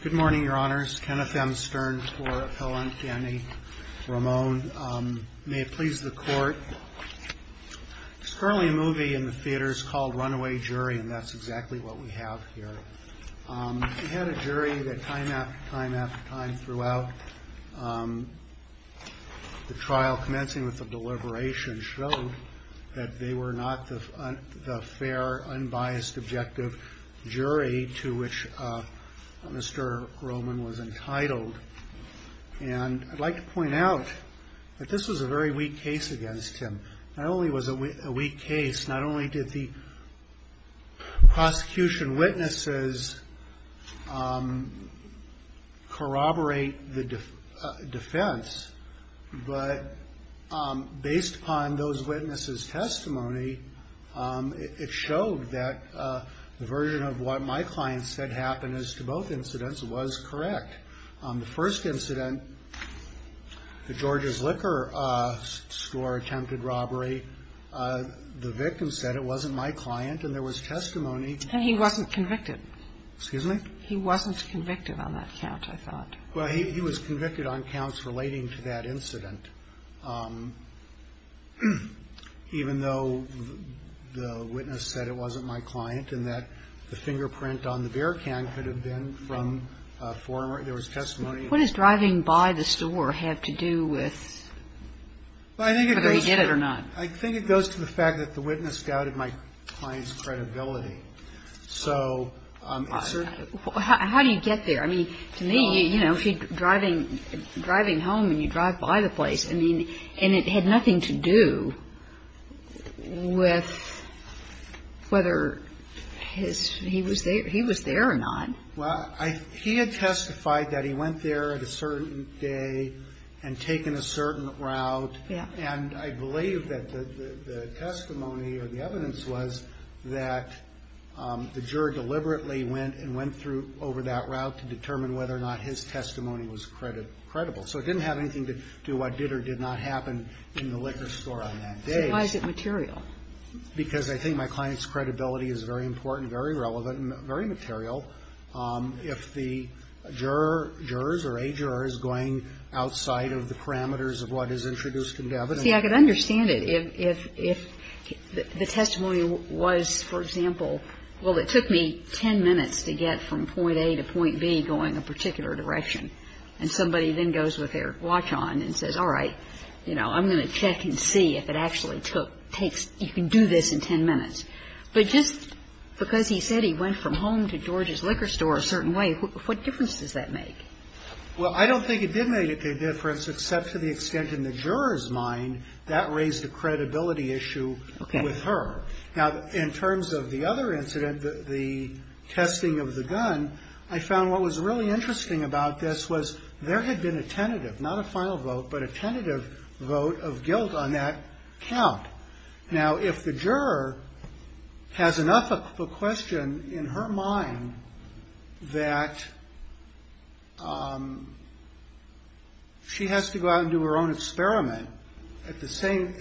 Good morning, Your Honors. Kenneth M. Stern for Appellant County. Ramon, may it please the Court. There's currently a movie in the theaters called Runaway Jury and that's exactly what we have here. We had a jury that time after time after time throughout the trial, commencing with the deliberation, showed that they were not the fair, unbiased, objective jury to which Mr. Roman was entitled. And I'd like to point out that this was a very weak case against him. Not only was it a weak case, not only did the prosecution witnesses corroborate the defense, but based upon those witnesses' testimony, it showed that the version of what my client said happened as to both incidents was correct. On the first incident, the Georgia's Liquor Store attempted robbery. The victim said it wasn't my client and there was testimony. And he wasn't convicted. Excuse me? He wasn't convicted on that count, I thought. Well, he was convicted on counts relating to that incident, even though the witness said it wasn't my client and that the fingerprint on the beer can could have been from a former. There was testimony. What does driving by the store have to do with whether he did it or not? I think it goes to the fact that the witness doubted my client's credibility. So it's a... Well, how do you get there? I mean, to me, you know, if you're driving home and you drive by the place, I mean, and it had nothing to do with whether he was there or not. Well, he had testified that he went there at a certain day and taken a certain route. Yeah. And I believe that the testimony or the evidence was that the juror deliberately went and went through over that route to determine whether or not his testimony was credible. So it didn't have anything to do what did or did not happen in the Liquor Store on that day. Why is it material? Because I think my client's credibility is very important, very relevant, and very material. If the juror, jurors or a juror, is going outside of the parameters of what is introduced in Devin... See, I can understand it. If the testimony was, for example, well, it took me 10 minutes to get from point A to point B going a particular direction. And somebody then goes with their watch on and says, all right, you know, I'm going to check and see if it actually took, takes, you can do this in 10 minutes. But just because he said he went from home to George's Liquor Store a certain way, what difference does that make? Well, I don't think it did make a difference, except to the extent in the juror's mind that raised a credibility issue with her. Now, in terms of the other incident, the testing of the gun, I found what was really interesting about this was there had been a tentative, not a final vote, but a tentative vote of guilt on that count. Now, if the juror has enough of a question in her mind that she has to go out and do her own experiment at the same,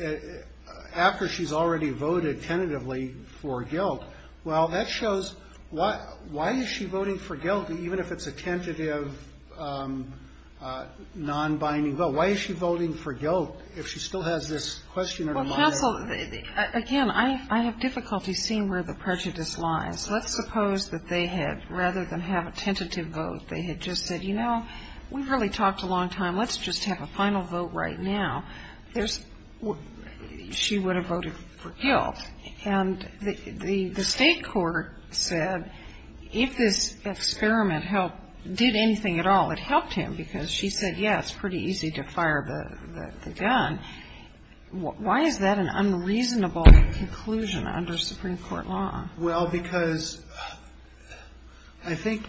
after she's already voted tentatively for guilt, well, that shows why, why is she voting for guilt even if it's a tentative, non-binding vote? Why is she voting for guilt if she still has this question in her mind? Counsel, again, I have difficulty seeing where the prejudice lies. Let's suppose that they had, rather than have a tentative vote, they had just said, you know, we've really talked a long time. Let's just have a final vote right now. There's, she would have voted for guilt. And the State Court said if this experiment helped, did anything at all that helped him, because she said, yeah, it's pretty easy to fire the gun. Why is that an unreasonable conclusion under Supreme Court law? Well, because I think,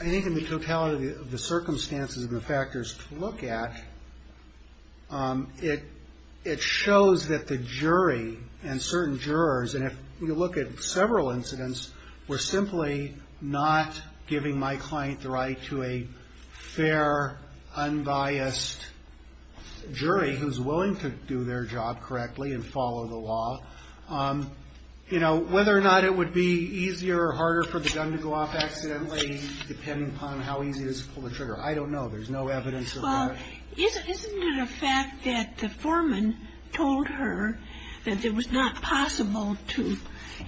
I think in the totality of the circumstances and the factors to look at, it, it shows that the jury and certain jurors, and if you look at several incidents, were simply not giving my client the right to a fair, unbiased jury who's willing to do their job correctly and follow the law. You know, whether or not it would be easier or harder for the gun to go off accidentally, depending upon how easy it is to pull the trigger, I don't know. There's no evidence of that. Isn't it a fact that the foreman told her that it was not possible to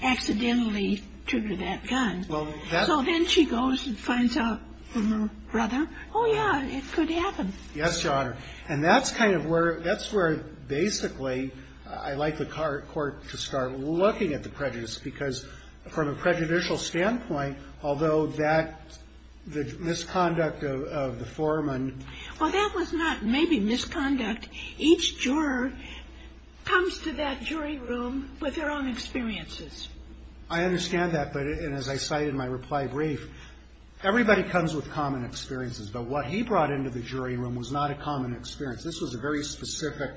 accidentally trigger that gun? Well, that's. So then she goes and finds out from her brother, oh, yeah, it could happen. Yes, Your Honor. And that's kind of where, that's where basically I like the court to start looking at the prejudice, because from a prejudicial standpoint, although that, the misconduct of the foreman. Well, that was not maybe misconduct. Each juror comes to that jury room with their own experiences. I understand that, but, and as I cite in my reply brief, everybody comes with common experiences, but what he brought into the jury room was not a common experience. This was a very specific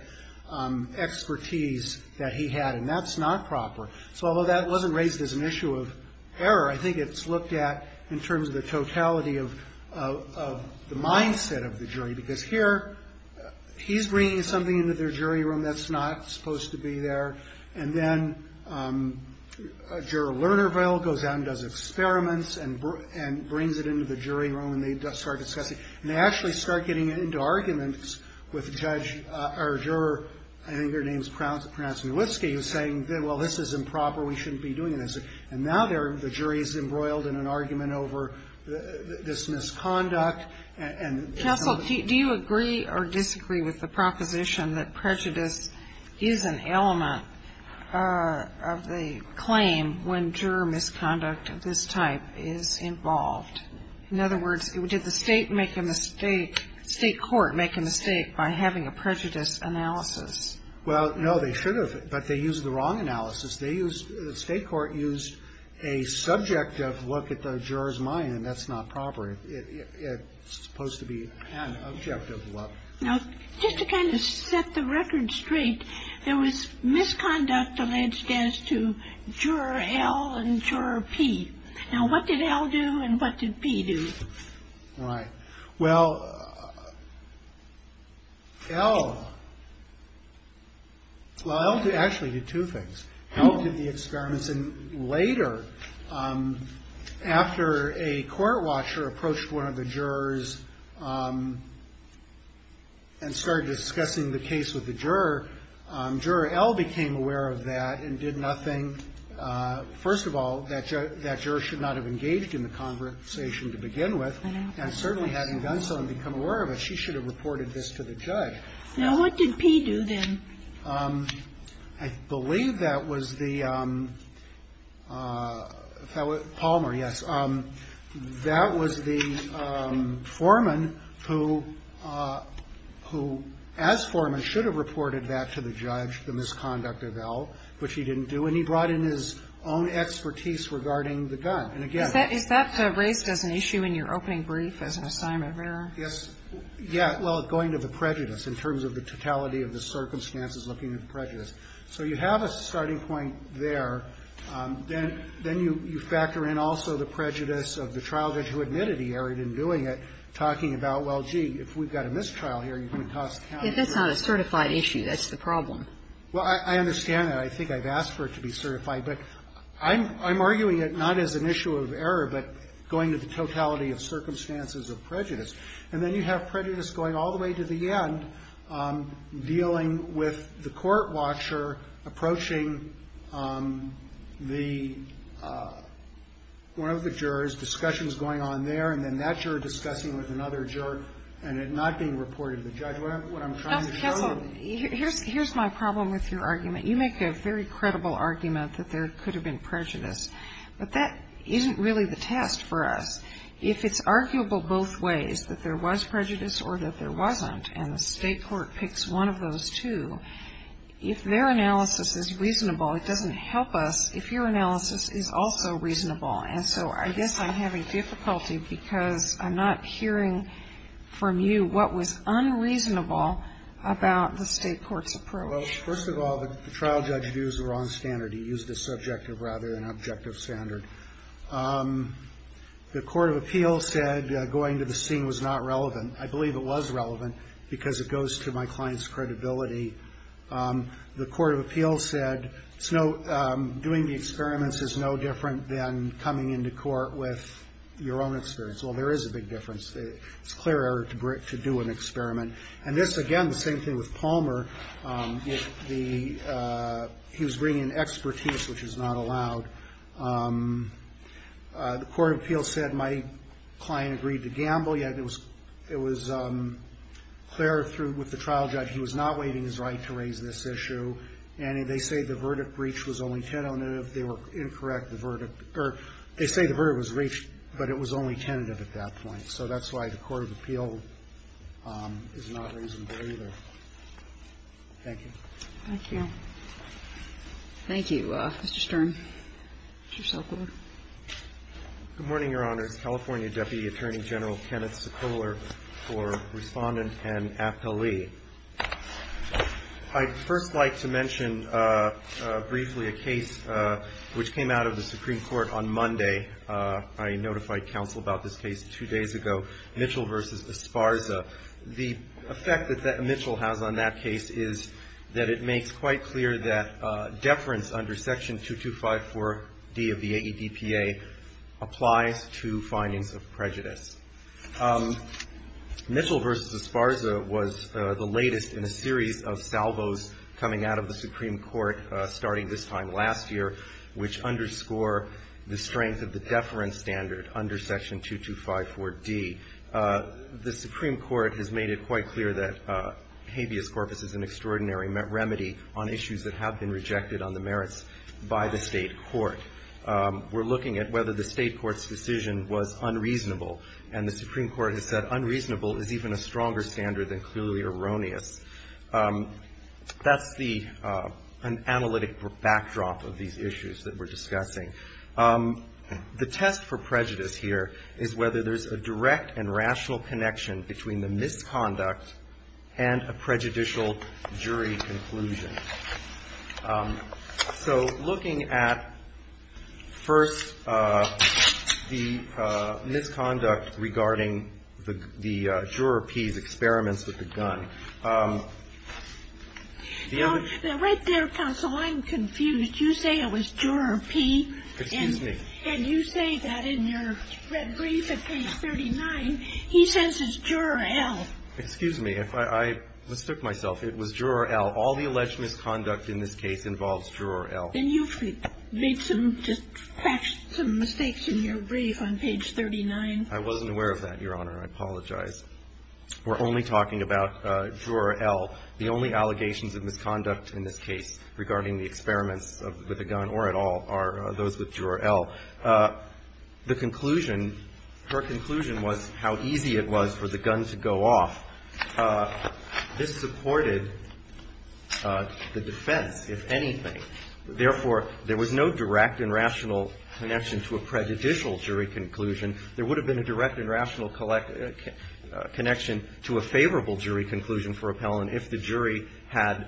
expertise that he had, and that's not proper. So although that wasn't raised as an issue of error, I think it's looked at in terms of the totality of the mindset of the jury. Because here, he's bringing something into their jury room that's not supposed to be there. And then Juror Lernerville goes out and does experiments and brings it into the jury room and they start discussing. And they actually start getting into arguments with the judge, or juror, I think her name is Prounce-Ulitsky, who's saying, well, this is improper. We shouldn't be doing this. And now the jury is embroiled in an argument over this misconduct and. Counsel, do you agree or disagree with the proposition that prejudice is an element of the claim when juror misconduct of this type is involved? In other words, did the state make a mistake, state court make a mistake by having a prejudice analysis? Well, no, they should have, but they used the wrong analysis. They used, the state court used a subjective look at the juror's mind, and that's not proper. It's supposed to be an objective look. Now, just to kind of set the record straight, there was misconduct alleged as to juror L and juror P. Now, what did L do and what did P do? Right. Well, L, well, L actually did two things. L did the experiments, and later, after a court watcher approached one of the jurors and started discussing the case with the juror, juror L became aware of that and did nothing. First of all, that juror should not have engaged in the conversation to begin with, and certainly, having done so and become aware of it, she should have reported this to the judge. Now, what did P do then? I believe that was the, Palmer, yes, that was the foreman who, as foreman, should have reported that to the judge, the misconduct of L, which he didn't do. And he brought in his own expertise regarding the gun. And, again ---- Is that raised as an issue in your opening brief as an assignment of error? Yes. Yeah. Well, going to the prejudice in terms of the totality of the circumstances, looking at the prejudice. So you have a starting point there. Then you factor in also the prejudice of the trial judge who admitted he erred in doing it, talking about, well, gee, if we've got a mistrial here, you're going to cost the county. If it's not a certified issue, that's the problem. Well, I understand that. I think I've asked for it to be certified. But I'm arguing it not as an issue of error, but going to the totality of circumstances of prejudice. And then you have prejudice going all the way to the end, dealing with the court watcher approaching the one of the jurors, discussions going on there, and then that juror discussing with another juror, and it not being reported to the judge. What I'm trying to show you ---- Here's my problem with your argument. You make a very credible argument that there could have been prejudice. But that isn't really the test for us. If it's arguable both ways, that there was prejudice or that there wasn't, and the state court picks one of those two, if their analysis is reasonable, it doesn't help us if your analysis is also reasonable. And so I guess I'm having difficulty because I'm not hearing from you what was unreasonable about the state court's approach. Well, first of all, the trial judge used the wrong standard. He used a subjective rather than objective standard. The court of appeals said going to the scene was not relevant. I believe it was relevant because it goes to my client's credibility. The court of appeals said doing the experiments is no different than coming into court with your own experience. Well, there is a big difference. It's clearer to do an experiment. And this, again, the same thing with Palmer. He was bringing in expertise, which is not allowed. The court of appeals said my client agreed to gamble, yet it was clear with the trial judge. He was not waiving his right to raise this issue, and they say the verdict reached was only tentative. They were incorrect. The verdict or they say the verdict was reached, but it was only tentative at that point. So that's why the court of appeal is not reasonable either. Thank you. Thank you. Thank you, Mr. Stern. Mr. Sokol. Good morning, Your Honors. California Deputy Attorney General Kenneth Sokoler for Respondent and Appellee. I'd first like to mention briefly a case which came out of the Supreme Court on Monday. I notified counsel about this case two days ago, Mitchell v. Esparza. The effect that Mitchell has on that case is that it makes quite clear that deference under Section 2254D of the AEDPA applies to findings of prejudice. Mitchell v. Esparza was the latest in a series of salvos coming out of the Supreme Court starting this time last year, which underscore the strength of the deference standard under Section 2254D. The Supreme Court has made it quite clear that habeas corpus is an extraordinary remedy on issues that have been rejected on the merits by the State court. We're looking at whether the State court's decision was unreasonable. And the Supreme Court has said unreasonable is even a stronger standard than clearly erroneous. That's the analytic backdrop of these issues that we're discussing. The test for prejudice here is whether there's a direct and rational connection between the misconduct and a prejudicial jury conclusion. So looking at, first, the misconduct regarding the juror P's experiments with the gun. Now, right there, counsel, I'm confused. You say it was juror P. Excuse me. And you say that in your red brief at page 39, he says it's juror L. Excuse me. I mistook myself. It was juror L. All the alleged misconduct in this case involves juror L. Then you've made some just facts, some mistakes in your brief on page 39. I wasn't aware of that, Your Honor. I apologize. We're only talking about juror L. The only allegations of misconduct in this case regarding the experiments with the gun or at all are those with juror L. The conclusion, her conclusion was how easy it was for the gun to go off. This supported the defense, if anything. Therefore, there was no direct and rational connection to a prejudicial jury conclusion. There would have been a direct and rational connection to a favorable jury conclusion for appellant if the jury had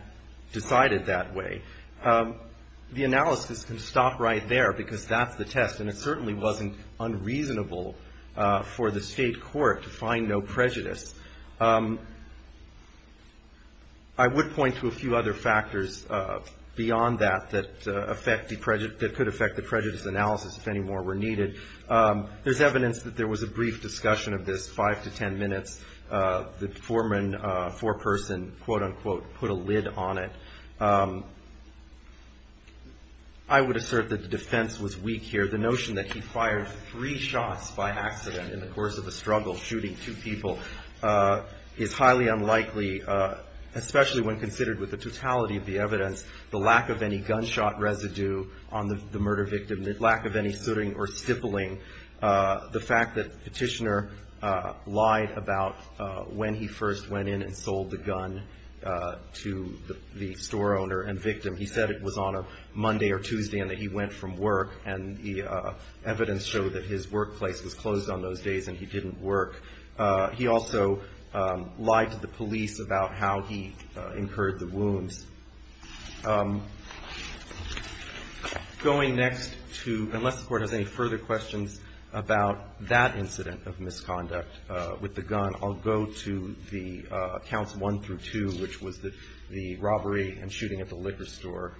decided that way. The analysis can stop right there because that's the test. And it certainly wasn't unreasonable for the State court to find no prejudice. I would point to a few other factors beyond that that could affect the prejudice analysis if any more were needed. There's evidence that there was a brief discussion of this, 5 to 10 minutes. The foreman, foreperson, quote, unquote, put a lid on it. I would assert that the defense was weak here. The notion that he fired three shots by accident in the course of a struggle, shooting two people, is highly unlikely, especially when considered with the totality of the evidence, the lack of any gunshot residue on the murder victim, the lack of any sooting or stippling. The fact that Petitioner lied about when he first went in and sold the gun to the store owner and victim. He said it was on a Monday or Tuesday and that he went from work. And the evidence showed that his workplace was closed on those days and he didn't work. He also lied to the police about how he incurred the wounds. Going next to, unless the Court has any further questions about that incident of misconduct with the gun, I'll go to the accounts one through two, which was the robbery and shooting at the liquor store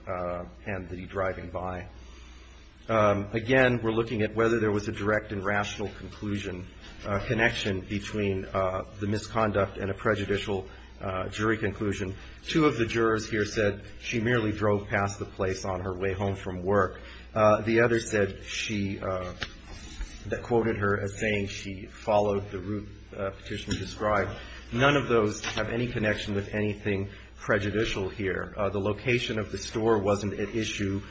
and the driving by. Again, we're looking at whether there was a direct and rational conclusion, connection between the misconduct and a prejudicial jury conclusion. Two of the jurors here said she merely drove past the place on her way home from work. The other said she, that quoted her as saying she followed the route Petitioner described. None of those have any connection with anything prejudicial here. The location of the store wasn't at issue.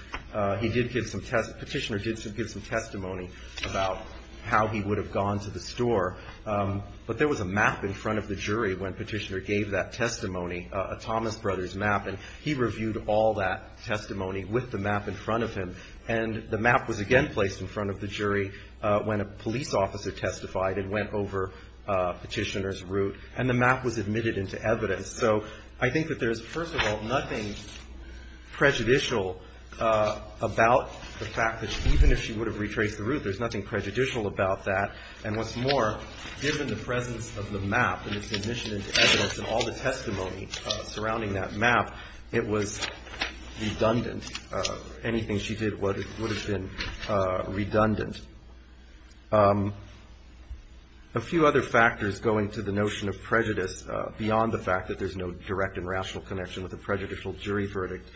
He did give some, Petitioner did give some testimony about how he would have gone to the store. But there was a map in front of the jury when Petitioner gave that testimony, a Thomas Brothers map. And he reviewed all that testimony with the map in front of him. And the map was again placed in front of the jury when a police officer testified and went over Petitioner's route. And the map was admitted into evidence. So I think that there's, first of all, nothing prejudicial about the fact that even if she would have retraced the route, there's nothing prejudicial about that. And what's more, given the presence of the map and its admission into evidence and all the testimony surrounding that map, it was redundant. Anything she did would have been redundant. A few other factors going to the notion of prejudice beyond the fact that there's no direct and rational connection with a prejudicial jury verdict.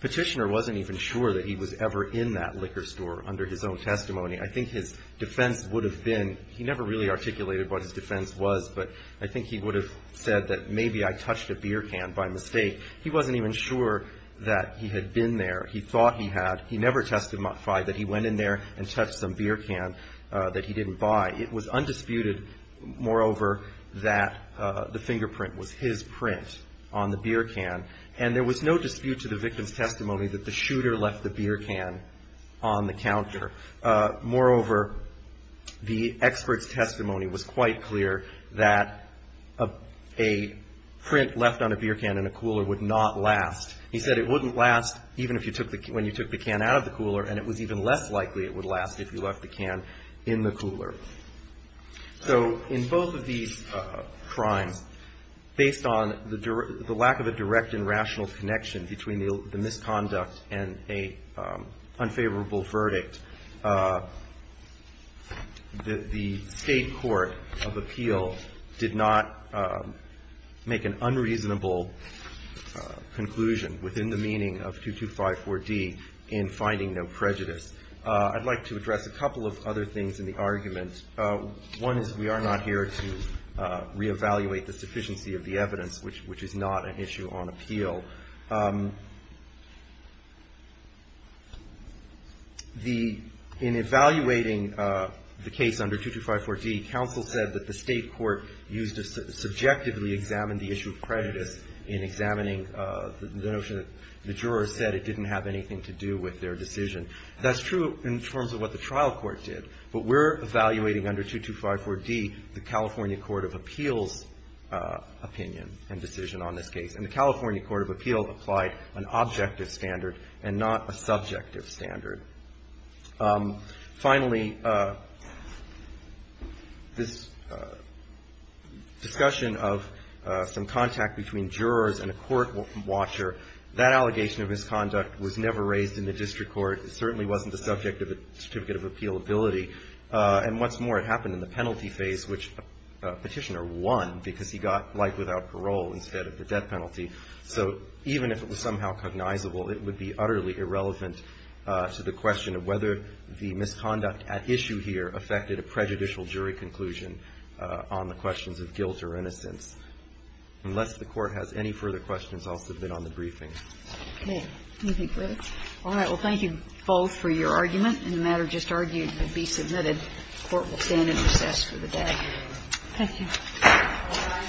Petitioner wasn't even sure that he was ever in that liquor store under his own testimony. I think his defense would have been, he never really articulated what his defense was, but I think he would have said that maybe I touched a beer can by mistake. He wasn't even sure that he had been there. He thought he had. He never testified that he went in there and touched some beer can that he didn't buy. It was undisputed, moreover, that the fingerprint was his print on the beer can. And there was no dispute to the victim's testimony that the shooter left the beer can on the counter. Moreover, the expert's testimony was quite clear that a print left on a beer can in a cooler would not last. He said it wouldn't last even when you took the can out of the cooler, and it was even less likely it would last if you left the can in the cooler. So in both of these crimes, based on the lack of a direct and rational connection between the misconduct and an unfavorable verdict, the State Court of Appeal did not make an unreasonable conclusion within the meaning of 2254D in finding no prejudice. I'd like to address a couple of other things in the argument. One is we are not here to reevaluate the sufficiency of the evidence, which is not an issue on appeal. In evaluating the case under 2254D, counsel said that the State Court used to subjectively examine the issue of prejudice in examining the notion that the jurors said it didn't have anything to do with their decision. That's true in terms of what the trial court did, but we're evaluating under 2254D the California Court of Appeals' opinion and decision on this case. And the California Court of Appeals applied an objective standard and not a subjective standard. Finally, this discussion of some contact between jurors and a court watcher, that allegation of misconduct was never raised in the district court. It certainly wasn't the subject of a certificate of appealability, and what's more, it happened in the penalty phase, which Petitioner won because he got life without parole instead of the death penalty. So even if it was somehow cognizable, it would be utterly irrelevant to the question of whether the misconduct at issue here affected a prejudicial jury conclusion on the questions of guilt or innocence. Unless the Court has any further questions, I'll submit on the briefing. Okay. Do you think that's all right? Well, thank you both for your argument, and the matter just argued to be submitted. The Court will stand in recess for the day. Thank you. Thank you.